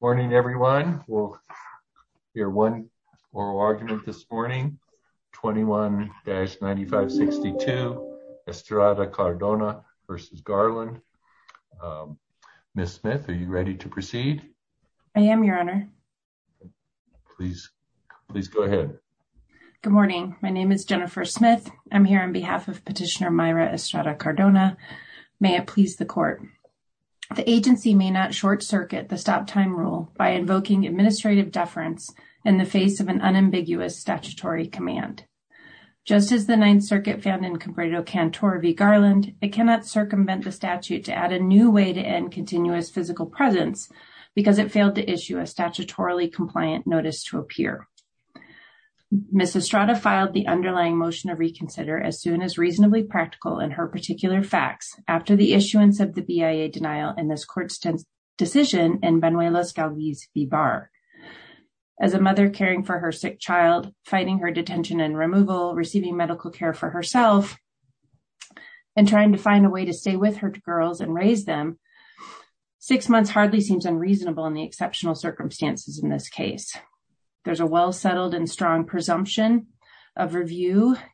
Good morning everyone. We'll hear one oral argument this morning. 21-9562 Estrada-Cardona v. Garland. Ms. Smith, are you ready to proceed? I am, Your Honor. Please go ahead. Good morning. My name is Jennifer Smith. I'm here on behalf of Petitioner Myra Estrada-Cardona. May it please the Court. The agency may not short-circuit the stop-time rule by invoking administrative deference in the face of an unambiguous statutory command. Just as the Ninth Circuit found in Cambrado-Cantor v. Garland, it cannot circumvent the statute to add a new way to end continuous physical presence because it failed to issue a statutorily compliant notice to a peer. Ms. Estrada filed the underlying motion to reconsider as soon as reasonably practical in her particular facts after the issuance of the BIA denial in this Court's decision in Benuelos-Galvis v. Barr. As a mother caring for her sick child, fighting her detention and removal, receiving medical care for herself, and trying to find a way to stay with her girls and raise them, six months hardly seems unreasonable in the exceptional circumstances in this case. There's a well-settled and strong presumption of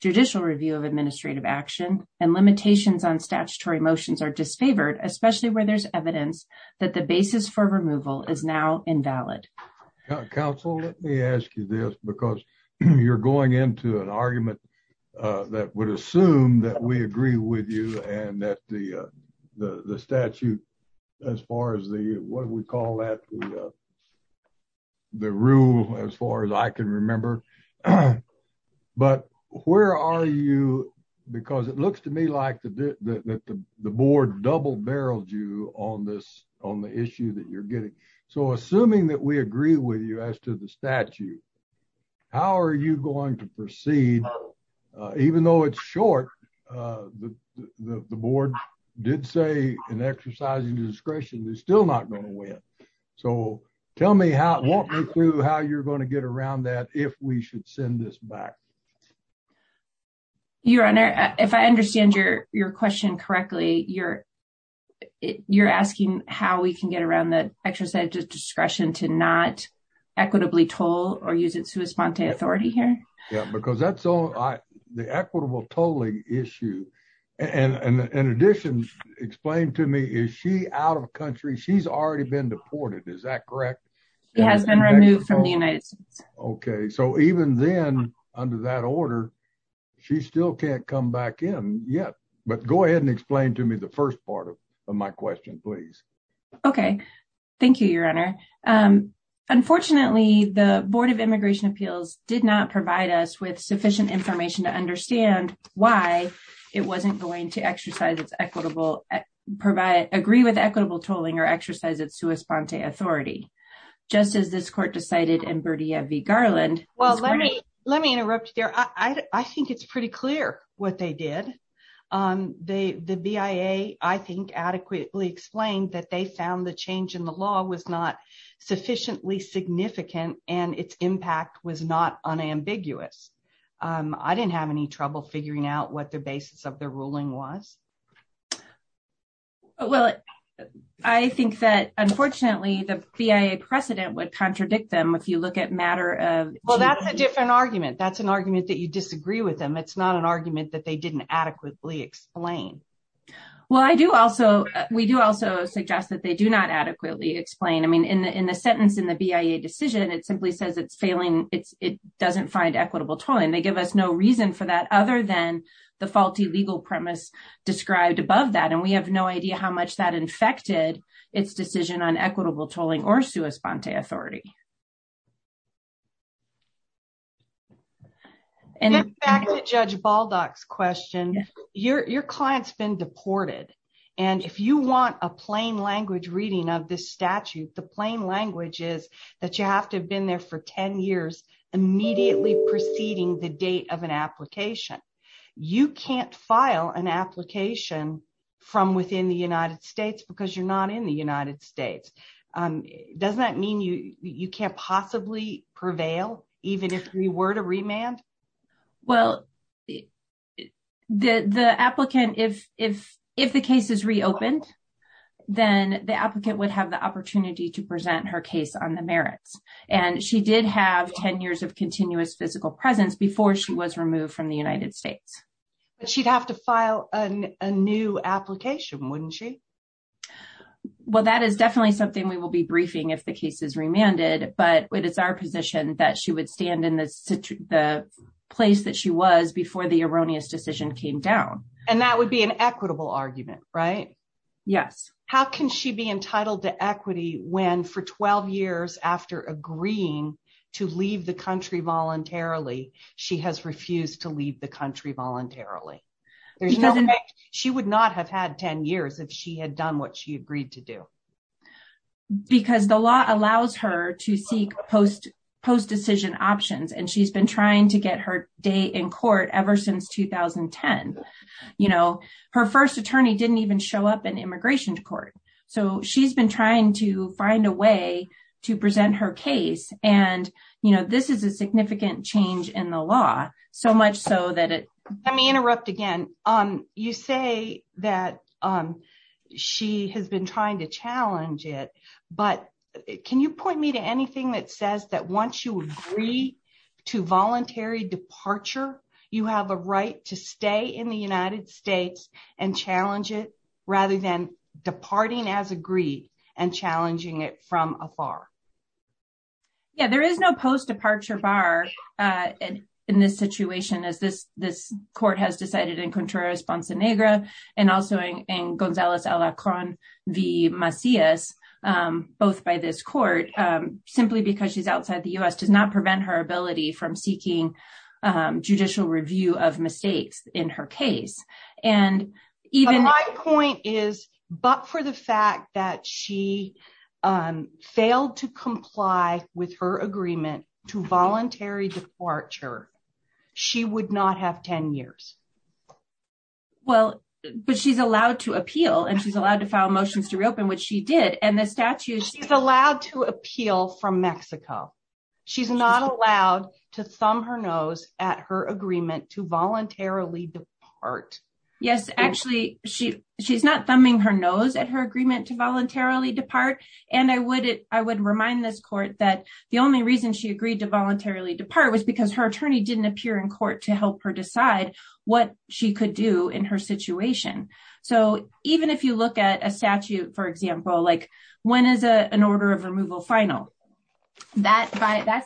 judicial review of administrative action, and limitations on statutory motions are disfavored, especially where there's evidence that the basis for removal is now invalid. Mr. Lighthizer. Counsel, let me ask you this, because you're going into an argument that would assume that we agree with you and that the statute, as far as the, what do we call that, the rule, as far as I can remember. But where are you, because it looks to me like the board double-barreled you on this, on the issue that you're getting. So assuming that we agree with you as to the statute, how are you going to proceed, even though it's short? The board did say an exercise of discretion is still not going to win. So tell me how, walk me through how you're going to get around that, if we should send this back. Your Honor, if I understand your question correctly, you're asking how we can get around the exercise of discretion to not equitably toll or use its sua sponte authority here? Yeah, because that's the equitable tolling issue. And in addition, explain to me, is she out of country? She's already been deported, is that correct? She has been removed from the United States. Okay, so even then, under that order, she still can't come back in yet. But go ahead and explain to me the first part of my question, please. Okay, thank you, Your Honor. Unfortunately, the Board of Immigration Appeals did not provide us with sufficient information to understand why it wasn't going to exercise its equitable, agree with equitable tolling or exercise its sua sponte authority. Just as this court decided in Berdia v. Garland. Well, let me interrupt you there. I think it's pretty clear what they did. The BIA, I think, adequately explained that they found the change in the law was not sufficiently significant, and its impact was not unambiguous. I didn't have any trouble figuring out what the basis of the ruling was. Well, I think that, unfortunately, the BIA precedent would contradict them if you look at matter of... Well, that's a different argument. That's an argument that you disagree with them. It's not an argument that they didn't adequately explain. Well, we do also suggest that they do not adequately explain. I mean, in the sentence in the BIA decision, it simply says it's failing, it doesn't find equitable tolling. They give us no reason for that other than the faulty legal premise described above that, and we have no idea how much that infected its decision on equitable tolling or sua sponte authority. Back to Judge Baldock's question, your client's been deported, and if you want a plain language reading of this statute, the plain language is that you have to have been there for 10 years immediately preceding the date of an application. You can't file an application from within the United States because you're not in the United States. Doesn't that mean you can't possibly prevail even if you were to remand? Well, the applicant, if the case is reopened, then the applicant would have the opportunity to present her case on the merits, and she did have 10 years of continuous physical presence before she was removed from the United States. But she'd have to file a new application, wouldn't she? Well, that is definitely something we will be briefing if the case is remanded, but it is our position that she would stand in the place that she was before the erroneous decision came down. And that would be an equitable argument, right? Yes. How can she be entitled to equity when, for 12 years after agreeing to leave the country voluntarily, she has refused to leave the country voluntarily? She would not have had 10 years if she had done what she agreed to do. Because the law allows her to seek post-decision options, and she's been trying to get her day in court ever since 2010. Her first attorney didn't even show up in immigration court, so she's been trying to find a way to present her case, and this is a significant change in the law. Let me interrupt again. You say that she has been trying to challenge it, but can you point me to anything that says that once you agree to voluntary departure, you have a right to stay in the United States and challenge it, rather than departing as agreed and challenging it from afar? Yeah, there is no post-departure bar in this situation, as this court has decided in Contreras-Bonsenegra and also in Gonzalez-Alacron v. Macias, both by this court, simply because she's outside the U.S. does not prevent her ability from seeking judicial review of mistakes in her case. My point is, but for the fact that she failed to comply with her agreement to voluntary departure, she would not have 10 years. Well, but she's allowed to appeal, and she's allowed to file motions to reopen, which she did. She's allowed to appeal from Mexico. She's not allowed to thumb her nose at her agreement to voluntarily depart. Yes, actually, she's not thumbing her nose at her agreement to voluntarily depart, and I would remind this court that the only reason she agreed to voluntarily depart was because her attorney didn't appear in court to help her decide what she could do in her situation. So even if you look at a statute, for example, like when is an order of removal final? That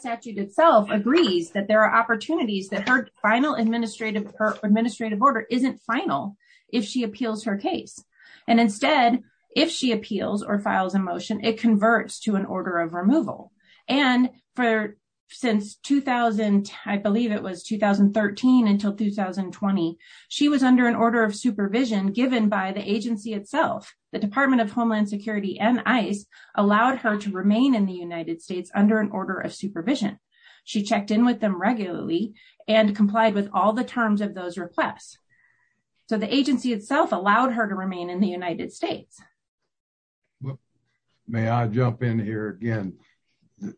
statute itself agrees that there are opportunities that her final administrative order isn't final if she appeals her case. And instead, if she appeals or files a motion, it converts to an order of removal. And for since 2000, I believe it was 2013 until 2020, she was under an order of supervision given by the agency itself. The Department of Homeland Security and ICE allowed her to remain in the United States under an order of supervision. She checked in with them regularly and complied with all the terms of those requests. So the agency itself allowed her to remain in the United States. Well, may I jump in here again?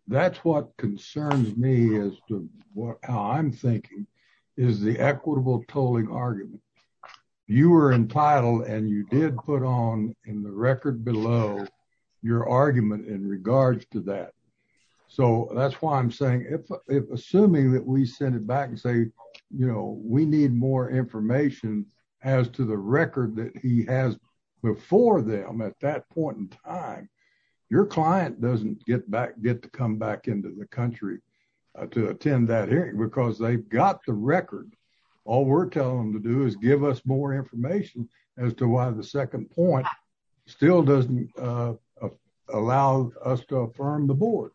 That's what concerns me as to what I'm thinking is the equitable tolling argument. You were entitled and you did put on in the record below your argument in regards to that. So that's why I'm saying if assuming that we send it back and say, you know, we need more information as to the record that he has before them at that point in time. Your client doesn't get back, get to come back into the country to attend that hearing because they've got the record. All we're telling them to do is give us more information as to why the second point still doesn't allow us to affirm the board.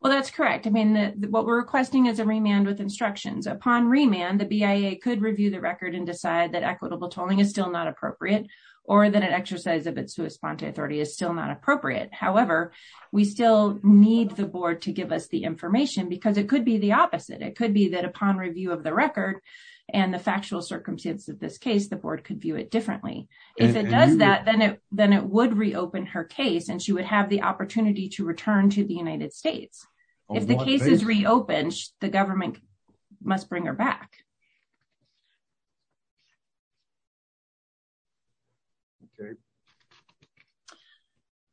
Well, that's correct. I mean, what we're requesting is a remand with instructions upon remand. The BIA could review the record and decide that equitable tolling is still not appropriate or that an exercise of its response authority is still not appropriate. However, we still need the board to give us the information because it could be the opposite. It could be that upon review of the record and the factual circumstance of this case, the board could view it differently. If it does that, then it then it would reopen her case and she would have the opportunity to return to the United States. If the case is reopened, the government must bring her back.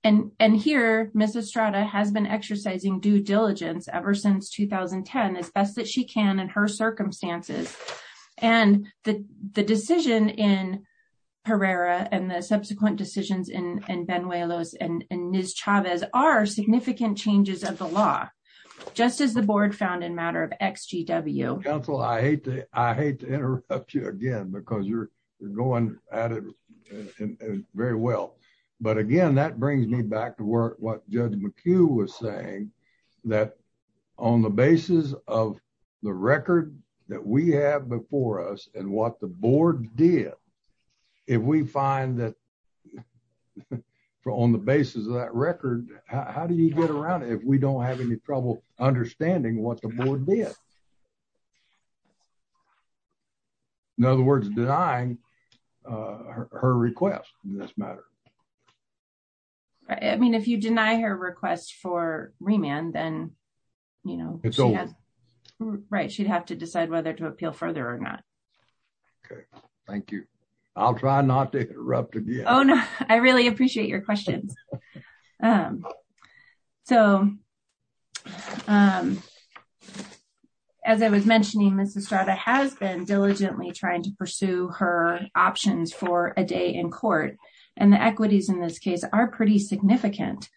And here, Mrs. Strada has been exercising due diligence ever since 2010 as best that she can in her circumstances. And the decision in Herrera and the subsequent decisions in Benuelos and Ms. Chavez are significant changes of the law, just as the board found in matter of XGW. Council, I hate to interrupt you again because you're going at it very well. But again, that brings me back to what Judge McHugh was saying, that on the basis of the record that we have before us and what the board did, if we find that on the basis of that record, how do you get around it if we don't have any trouble understanding what the board did? In other words, denying her request in this matter. I mean, if you deny her request for remand, then, you know, it's all right. She'd have to decide whether to appeal further or not. OK, thank you. I'll try not to interrupt again. I really appreciate your questions. So, as I was mentioning, Mrs. Strada has been diligently trying to pursue her options for a day in court. And the equities in this case are pretty significant,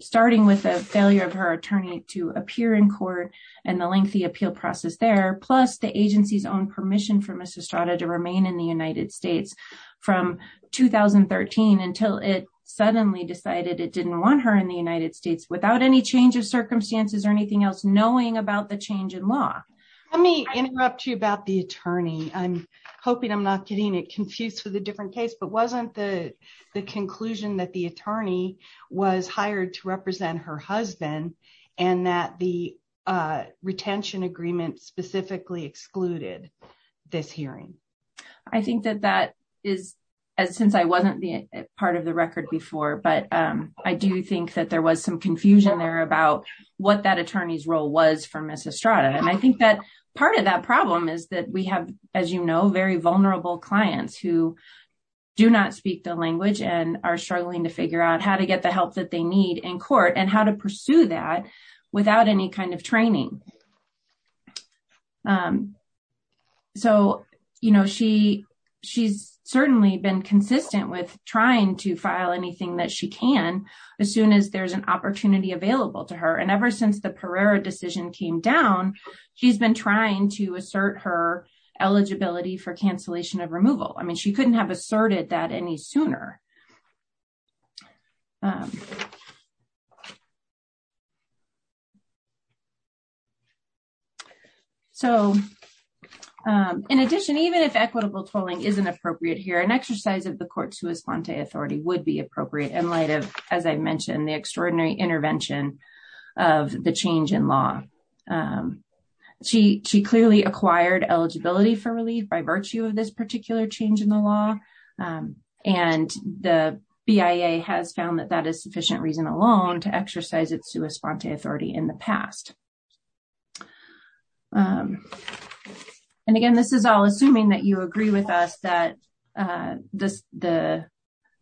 starting with the failure of her attorney to appear in court and the lengthy appeal process there, plus the agency's own permission for Mrs. Strada to remain in the United States from 2013 until it suddenly decided it didn't want her in the United States without any change of circumstances or anything else, knowing about the change in law. Let me interrupt you about the attorney. I'm hoping I'm not getting it confused with a different case. But wasn't the conclusion that the attorney was hired to represent her husband and that the retention agreement specifically excluded this hearing? I think that that is, since I wasn't part of the record before, but I do think that there was some confusion there about what that attorney's role was for Mrs. Strada. And I think that part of that problem is that we have, as you know, very vulnerable clients who do not speak the language and are struggling to figure out how to get the help that they need in court and how to pursue that without any kind of training. So, you know, she's certainly been consistent with trying to file anything that she can as soon as there's an opportunity available to her. And ever since the Pereira decision came down, she's been trying to assert her eligibility for cancellation of removal. I mean, she couldn't have asserted that any sooner. So, in addition, even if equitable tolling isn't appropriate here, an exercise of the court's sua sponte authority would be appropriate in light of, as I mentioned, the extraordinary intervention of the change in law. She clearly acquired eligibility for relief by virtue of this particular change in the law. And the BIA has found that that is sufficient reason alone to exercise its sua sponte authority in the past. And again, this is all assuming that you agree with us that the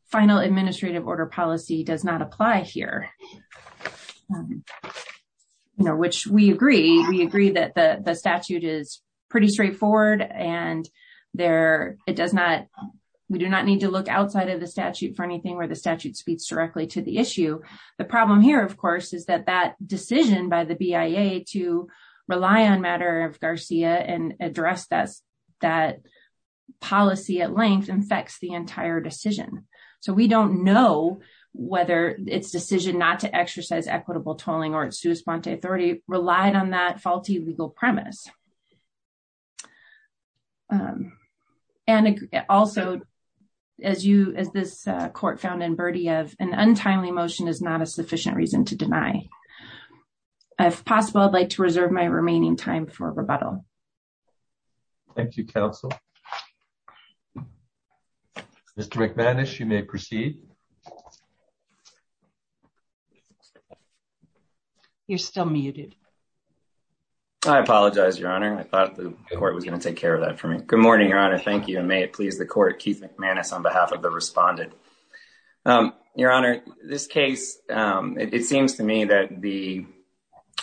final administrative order policy does not apply here. You know, which we agree. We agree that the statute is pretty straightforward and we do not need to look outside of the statute for anything where the statute speaks directly to the issue. The problem here, of course, is that that decision by the BIA to rely on matter of Garcia and address that policy at length infects the entire decision. So, we don't know whether its decision not to exercise equitable tolling or its sua sponte authority relied on that faulty legal premise. And also, as you as this court found in birdie of an untimely motion is not a sufficient reason to deny. If possible, I'd like to reserve my remaining time for rebuttal. Thank you, counsel. Mr McManus, you may proceed. You're still muted. I apologize, your honor. I thought the court was going to take care of that for me. Good morning, your honor. Thank you. And may it please the court. Keith McManus on behalf of the respondent. Your honor, this case, it seems to me that the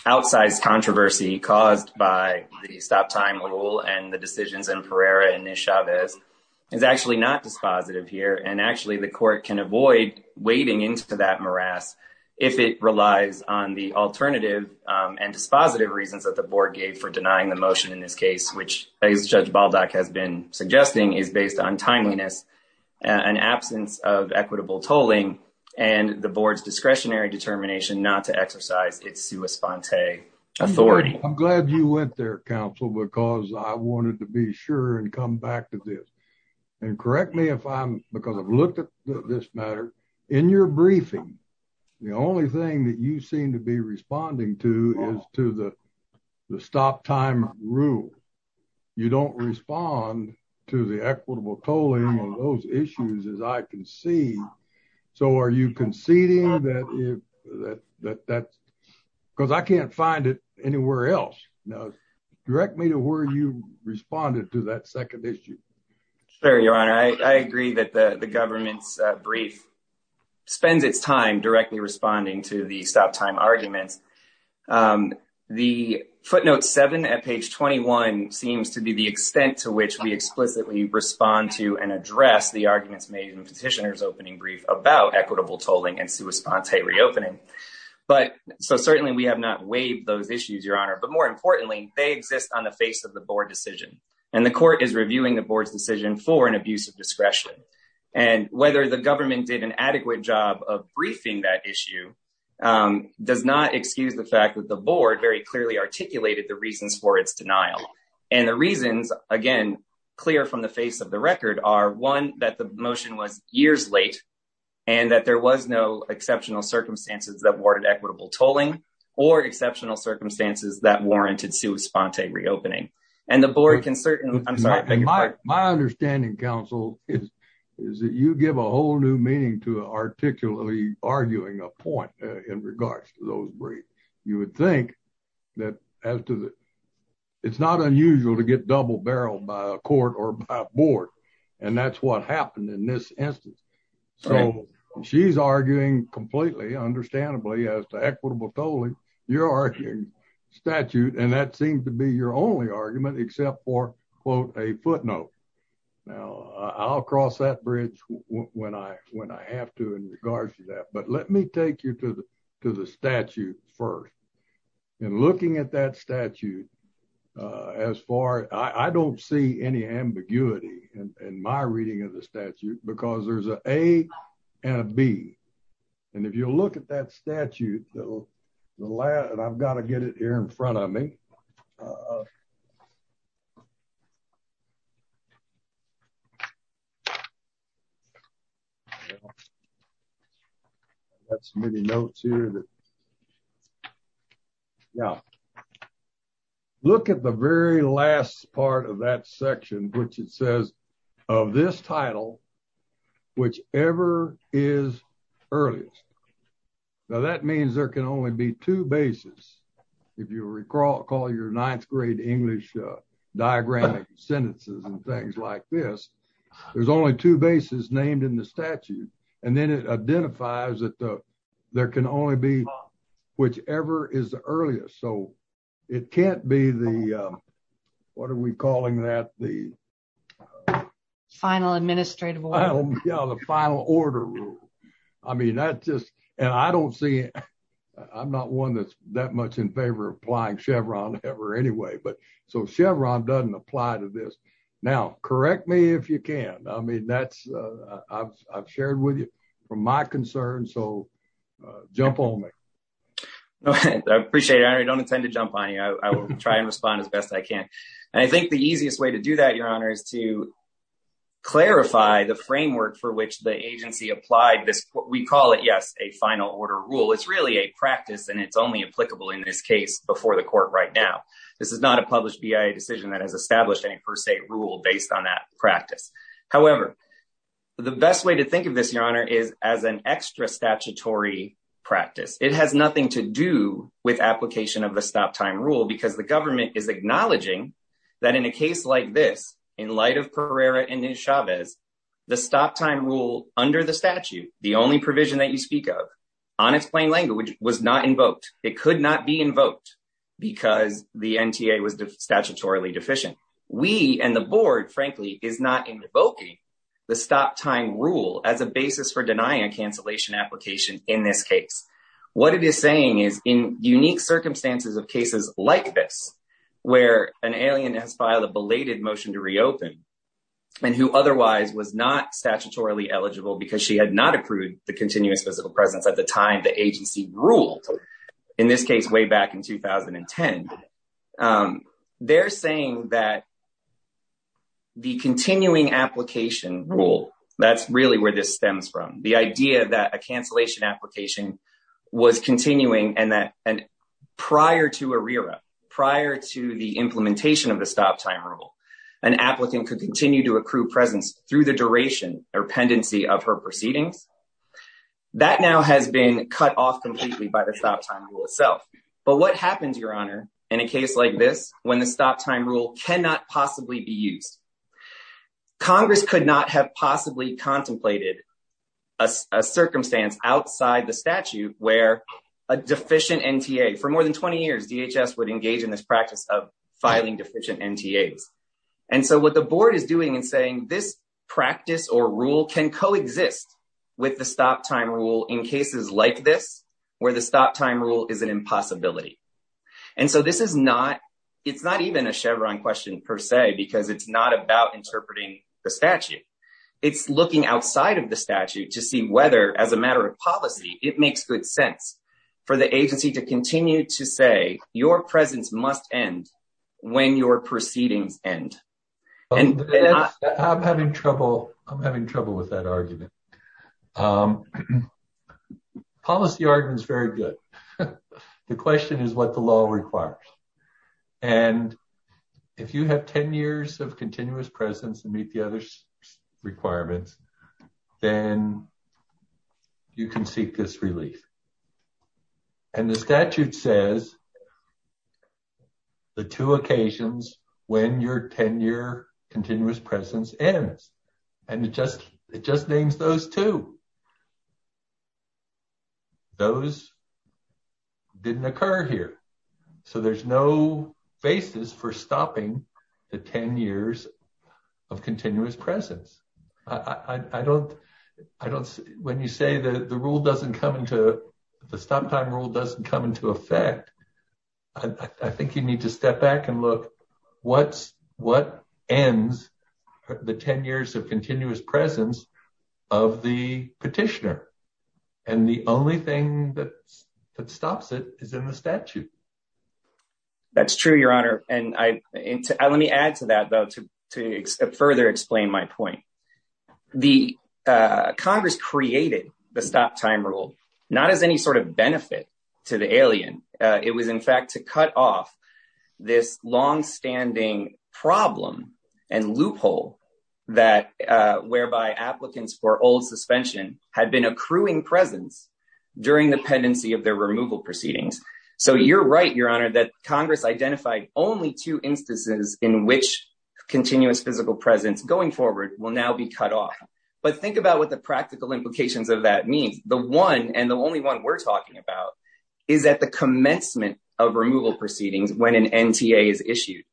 outsized controversy caused by the stop time rule and the decisions in Pereira and Chavez is actually not dispositive here. And actually, the court can avoid wading into that morass if it relies on the alternative and dispositive reasons that the board gave for denying the motion in this case, which Judge Baldock has been suggesting is based on timeliness. An absence of equitable tolling and the board's discretionary determination not to exercise its sua sponte authority. I'm glad you went there, counsel, because I wanted to be sure and come back to this and correct me if I'm because I've looked at this matter in your briefing. The only thing that you seem to be responding to is to the stop time rule. You don't respond to the equitable tolling on those issues as I can see. So are you conceding that that's because I can't find it anywhere else. Now, direct me to where you responded to that second issue. Sir, your honor, I agree that the government's brief spends its time directly responding to the stop time arguments. The footnote 7 at page 21 seems to be the extent to which we explicitly respond to and address the arguments made in petitioners opening brief about equitable tolling and sua sponte reopening. But so certainly we have not waived those issues, your honor. But more importantly, they exist on the face of the board decision, and the court is reviewing the board's decision for an abuse of discretion. And whether the government did an adequate job of briefing that issue does not excuse the fact that the board very clearly articulated the reasons for its denial. And the reasons, again, clear from the face of the record are one, that the motion was years late and that there was no exceptional circumstances that warranted equitable tolling or exceptional circumstances that warranted sua sponte reopening. My understanding, counsel, is that you give a whole new meaning to articulately arguing a point in regards to those briefs. You would think that it's not unusual to get double barreled by a court or board, and that's what happened in this instance. So she's arguing completely, understandably, as to equitable tolling. You're arguing statute, and that seems to be your only argument except for, quote, a footnote. Now, I'll cross that bridge when I have to in regards to that. But let me take you to the statute first. And looking at that statute, as far, I don't see any ambiguity in my reading of the statute, because there's an A and a B. And if you look at that statute, and I've got to get it here in front of me. Okay. That's many notes here. Yeah. Look at the very last part of that section, which it says of this title, whichever is earliest. Now that means there can only be two bases. If you recall, call your ninth grade English diagram sentences and things like this. There's only two bases named in the statute, and then it identifies that there can only be whichever is the earliest so it can't be the. What are we calling that the final administrative. The final order. I mean that's just, and I don't see. I'm not one that's that much in favor of applying Chevron ever anyway but so Chevron doesn't apply to this. Now, correct me if you can. I mean that's, I've shared with you, from my concern so jump on me. Appreciate it. I don't intend to jump on you. I will try and respond as best I can. And I think the easiest way to do that your honor is to clarify the framework for which the agency applied this, we call it yes, a final order rule it's really a practice and it's only practice. It has nothing to do with application of the stop time rule because the government is acknowledging that in a case like this, in light of Pereira and Chavez, the stop time rule under the statute, the only provision that you speak of unexplained language was not invoked, it could not be invoked, because the NTA was statutorily deficient. We and the board, frankly, is not invoking the stop time rule as a basis for denying a cancellation application in this case. What it is saying is in unique circumstances of cases like this, where an alien has filed a belated motion to reopen, and who otherwise was not statutorily eligible because she had not approved the continuous physical presence at the time the agency ruled, in this case way back in 2010. They're saying that the continuing application rule, that's really where this stems from the idea that a cancellation application was continuing and that prior to a rear up prior to the implementation of the stop time rule, an applicant could continue to accrue presence through the duration or pendency of her proceedings. That now has been cut off completely by the stop time rule itself. But what happens, Your Honor, in a case like this, when the stop time rule cannot possibly be used? Congress could not have possibly contemplated a circumstance outside the statute where a deficient NTA, for more than 20 years, DHS would engage in this practice of filing deficient NTAs. And so what the board is doing and saying this practice or rule can coexist with the stop time rule in cases like this, where the stop time rule is an impossibility. And so this is not, it's not even a Chevron question per se, because it's not about interpreting the statute. It's looking outside of the statute to see whether as a matter of policy, it makes good sense for the agency to continue to say your presence must end when your proceedings end. I'm having trouble. I'm having trouble with that argument. Policy argument is very good. The question is what the law requires. And if you have 10 years of continuous presence and meet the other requirements, then you can seek this relief. And the statute says the two occasions when your 10-year continuous presence ends. And it just names those two. Those didn't occur here. So there's no basis for stopping the 10 years of continuous presence. I don't, I don't, when you say that the rule doesn't come into the stop time rule doesn't come into effect. I think you need to step back and look what's what ends the 10 years of continuous presence of the petitioner. And the only thing that stops it is in the statute. That's true, Your Honor. And let me add to that, though, to further explain my point. The Congress created the stop time rule, not as any sort of benefit to the alien. It was, in fact, to cut off this longstanding problem and loophole that whereby applicants for old suspension had been accruing presence during the pendency of their removal proceedings. And so you're right, Your Honor, that Congress identified only two instances in which continuous physical presence going forward will now be cut off. But think about what the practical implications of that means. The one and the only one we're talking about is at the commencement of removal proceedings when an NTA is issued.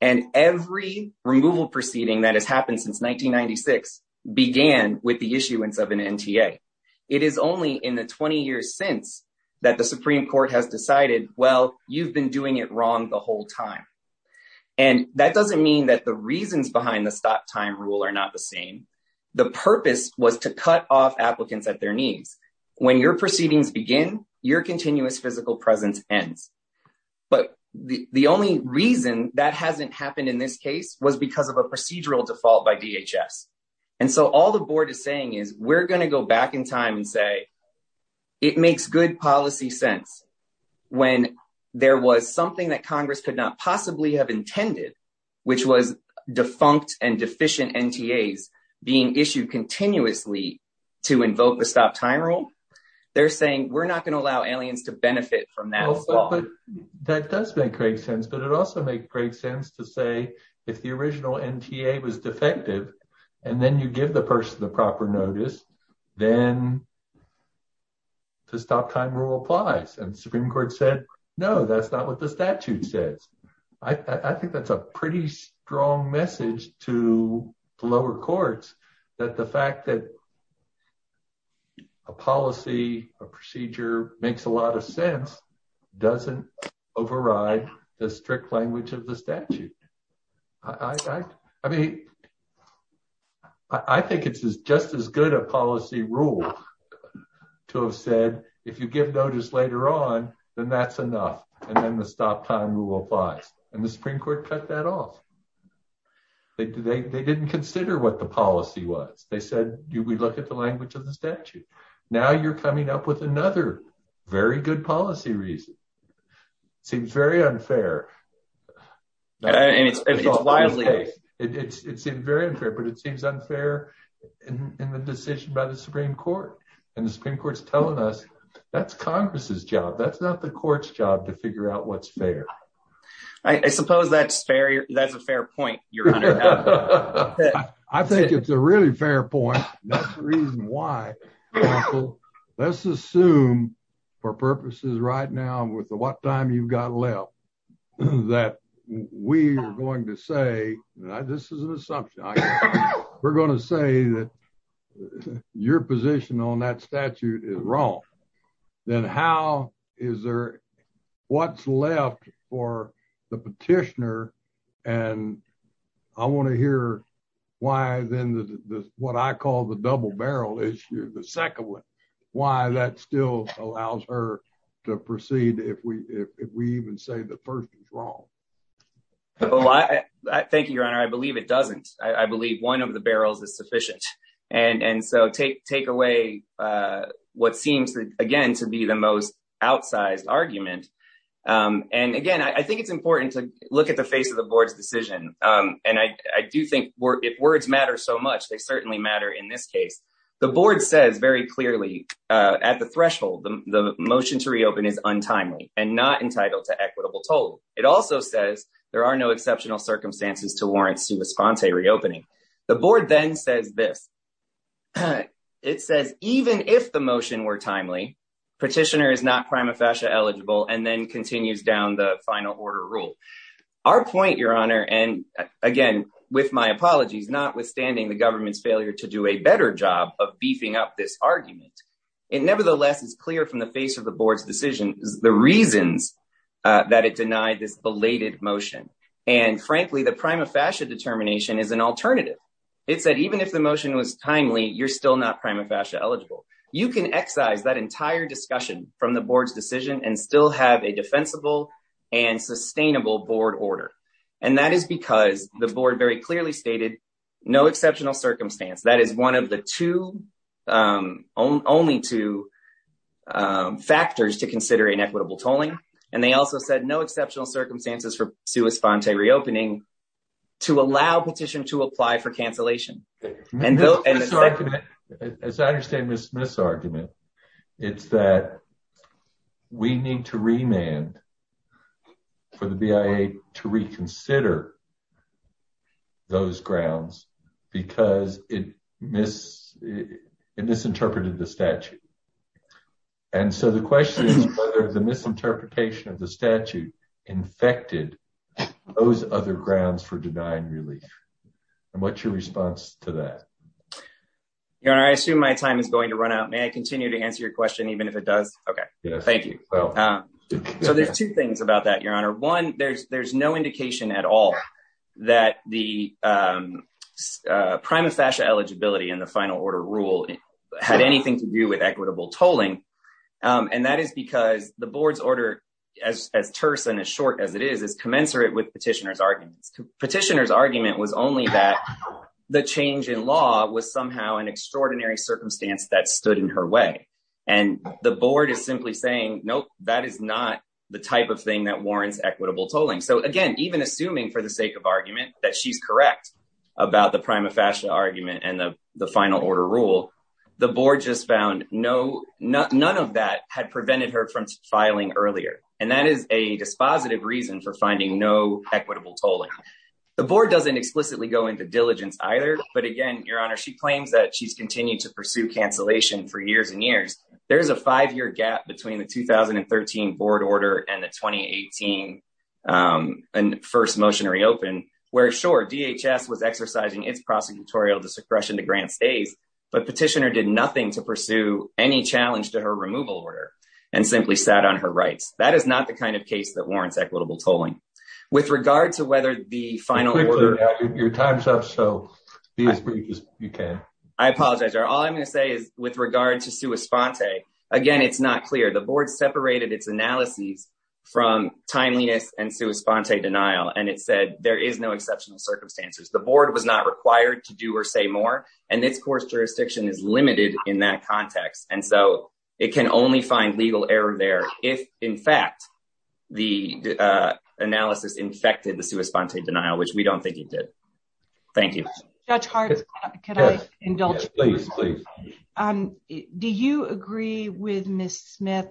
And every removal proceeding that has happened since 1996 began with the issuance of an NTA. It is only in the 20 years since that the Supreme Court has decided, well, you've been doing it wrong the whole time. And that doesn't mean that the reasons behind the stop time rule are not the same. The purpose was to cut off applicants at their knees. When your proceedings begin, your continuous physical presence ends. But the only reason that hasn't happened in this case was because of a procedural default by DHS. And so all the board is saying is we're going to go back in time and say it makes good policy sense. When there was something that Congress could not possibly have intended, which was defunct and deficient NTAs being issued continuously to invoke the stop time rule. They're saying we're not going to allow aliens to benefit from that. That does make great sense, but it also makes great sense to say if the original NTA was defective and then you give the person the proper notice, then the stop time rule applies. And the Supreme Court said no, that's not what the statute says. I think that's a pretty strong message to lower courts that the fact that a policy, a procedure makes a lot of sense doesn't override the strict language of the statute. I mean, I think it's just as good a policy rule to have said, if you give notice later on, then that's enough. And then the stop time rule applies and the Supreme Court cut that off. They didn't consider what the policy was. They said, we look at the language of the statute. Now you're coming up with another very good policy reason. Seems very unfair. It's very unfair, but it seems unfair in the decision by the Supreme Court. And the Supreme Court's telling us that's Congress's job. That's not the court's job to figure out what's fair. I suppose that's fair. That's a fair point. I think it's a really fair point. That's the reason why. Let's assume for purposes right now with what time you've got left, that we are going to say, this is an assumption. We're going to say that your position on that statute is wrong. Then how is there, what's left for the petitioner? And I want to hear why then what I call the double barrel issue, the second one. Why that still allows her to proceed if we even say the person's wrong. Thank you, Your Honor. I believe it doesn't. I believe one of the barrels is sufficient. And so take away what seems again to be the most outsized argument. And again, I think it's important to look at the face of the board's decision. And I do think if words matter so much, they certainly matter in this case. The board says very clearly at the threshold, the motion to reopen is untimely and not entitled to equitable toll. It also says there are no exceptional circumstances to warrant response a reopening. The board then says this. It says even if the motion were timely, petitioner is not prima facie eligible and then continues down the final order rule. Our point, Your Honor, and again, with my apologies, notwithstanding the government's failure to do a better job of beefing up this argument. It nevertheless is clear from the face of the board's decision, the reasons that it denied this belated motion. And frankly, the prima facie determination is an alternative. It said even if the motion was timely, you're still not prima facie eligible. You can excise that entire discussion from the board's decision and still have a defensible and sustainable board order. And that is because the board very clearly stated no exceptional circumstance. That is one of the two, only two factors to consider inequitable tolling. And they also said no exceptional circumstances for response a reopening to allow petition to apply for cancellation. As I understand this misargument, it's that we need to remand for the BIA to reconsider those grounds because it misinterpreted the statute. And so the question is whether the misinterpretation of the statute infected those other grounds for denying relief. And what's your response to that? I assume my time is going to run out. May I continue to answer your question, even if it does? OK, thank you. So there's two things about that, Your Honor. One, there's there's no indication at all that the prima facie eligibility in the final order rule had anything to do with equitable tolling. And that is because the board's order, as terse and as short as it is, is commensurate with petitioner's arguments. Petitioner's argument was only that the change in law was somehow an extraordinary circumstance that stood in her way. And the board is simply saying, nope, that is not the type of thing that warrants equitable tolling. So, again, even assuming for the sake of argument that she's correct about the prima facie argument and the final order rule, the board just found no, none of that had prevented her from filing earlier. And that is a dispositive reason for finding no equitable tolling. The board doesn't explicitly go into diligence either. But again, Your Honor, she claims that she's continued to pursue cancellation for years and years. There is a five year gap between the 2013 board order and the 2018 first motionary open where, sure, DHS was exercising its prosecutorial discretion to grant stays. But petitioner did nothing to pursue any challenge to her removal order and simply sat on her rights. That is not the kind of case that warrants equitable tolling. With regard to whether the final order. Your time's up, so be as brief as you can. I apologize, Your Honor. All I'm going to say is with regard to sua sponte, again, it's not clear. The board separated its analyses from timeliness and sua sponte denial. And it said there is no exceptional circumstances. The board was not required to do or say more. And this court's jurisdiction is limited in that context. And so it can only find legal error there. If, in fact, the analysis infected the sua sponte denial, which we don't think it did. Thank you. Judge Hart, can I indulge? Please, please. Do you agree with Miss Smith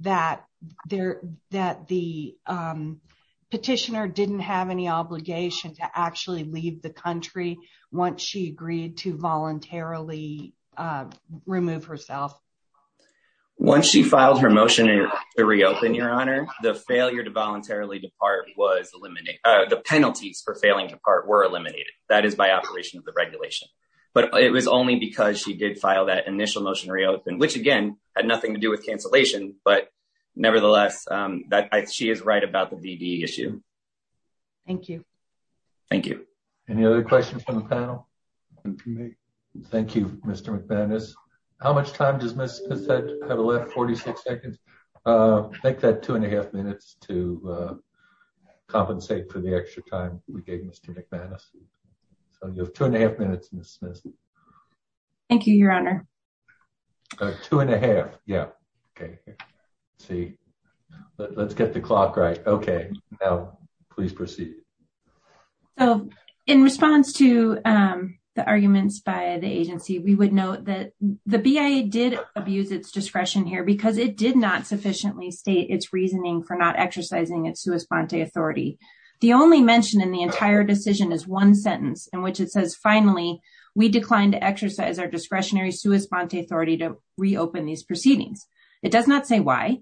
that the petitioner didn't have any obligation to actually leave the country once she agreed to voluntarily remove herself? Once she filed her motion to reopen, Your Honor, the failure to voluntarily depart was eliminated. The penalties for failing to part were eliminated. That is by operation of the regulation. But it was only because she did file that initial motion to reopen, which, again, had nothing to do with cancellation. But, nevertheless, she is right about the DD issue. Thank you. Thank you. Any other questions from the panel? Thank you, Mr. McManus. How much time does Miss Smith have left? 46 seconds? Take that two and a half minutes to compensate for the extra time we gave Mr. McManus. So you have two and a half minutes, Miss Smith. Thank you, Your Honor. Two and a half. Yeah. Okay. Let's get the clock right. Okay. Now, please proceed. So in response to the arguments by the agency, we would note that the BIA did abuse its discretion here because it did not sufficiently state its reasoning for not exercising its sua sponte authority. The only mention in the entire decision is one sentence in which it says, finally, we declined to exercise our discretionary sua sponte authority to reopen these proceedings. It does not say why.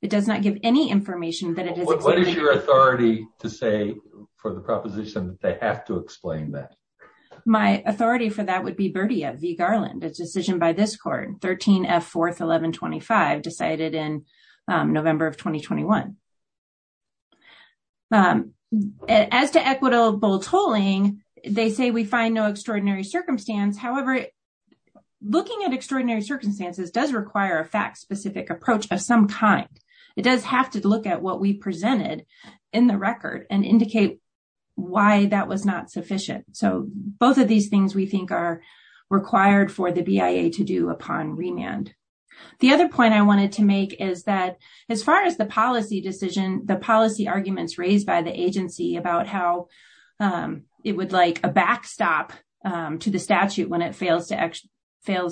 It does not give any information that it is. What is your authority to say for the proposition that they have to explain that? My authority for that would be Berdia v. Garland, a decision by this court, 13 F. 4th, 1125, decided in November of 2021. As to equitable tolling, they say we find no extraordinary circumstance. However, looking at extraordinary circumstances does require a fact-specific approach of some kind. It does have to look at what we presented in the record and indicate why that was not sufficient. So both of these things we think are required for the BIA to do upon remand. The other point I wanted to make is that as far as the policy decision, the policy arguments raised by the agency about how it would like a backstop to the statute when it fails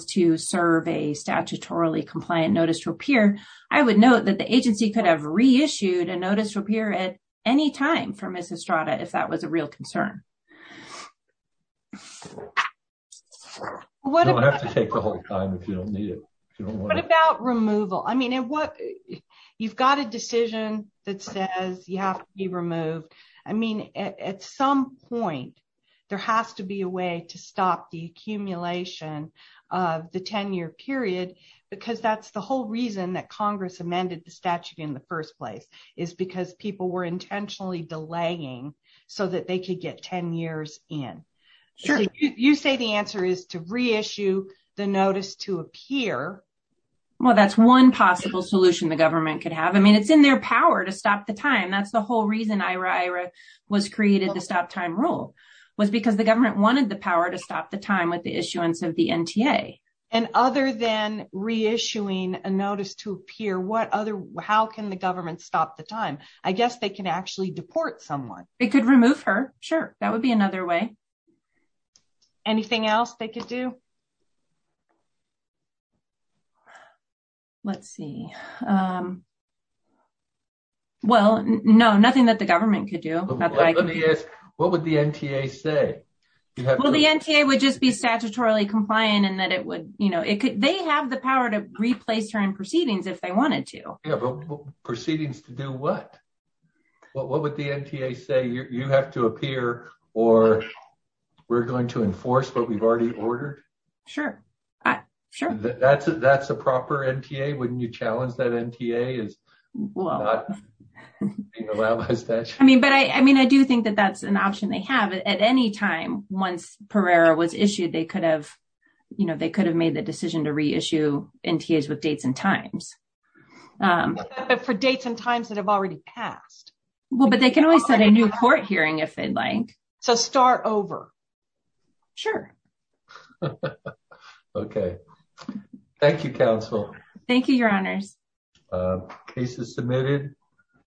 to serve a statutorily compliant notice to appear, I would note that the agency could have reissued a notice to appear at any time for Ms. Estrada if that was a real concern. You don't have to take the whole time if you don't need it. What about removal? I mean, you've got a decision that says you have to be removed. I mean, at some point, there has to be a way to stop the accumulation of the 10-year period because that's the whole reason that Congress amended the statute in the first place is because people were intentionally delaying so that they could get 10 years in. Sure. You say the answer is to reissue the notice to appear. Well, that's one possible solution the government could have. I mean, it's in their power to stop the time. That's the whole reason Aira Aira was created, the stop time rule, was because the government wanted the power to stop the time with the issuance of the NTA. And other than reissuing a notice to appear, how can the government stop the time? I guess they can actually deport someone. It could remove her. Sure. That would be another way. Anything else they could do? Let's see. Well, no, nothing that the government could do. Let me ask, what would the NTA say? Well, the NTA would just be statutorily compliant in that it would, you know, they have the power to replace her in proceedings if they wanted to. Proceedings to do what? What would the NTA say? You have to appear or we're going to enforce what we've already ordered? Sure. Sure. That's a proper NTA? Wouldn't you challenge that NTA? I mean, but I mean, I do think that that's an option they have at any time. Once Pereira was issued, they could have, you know, they could have made the decision to reissue NTAs with dates and times. For dates and times that have already passed. Well, but they can always set a new court hearing if they'd like. So start over. Sure. Okay. Thank you, Counsel. Thank you, Your Honors. Case is submitted.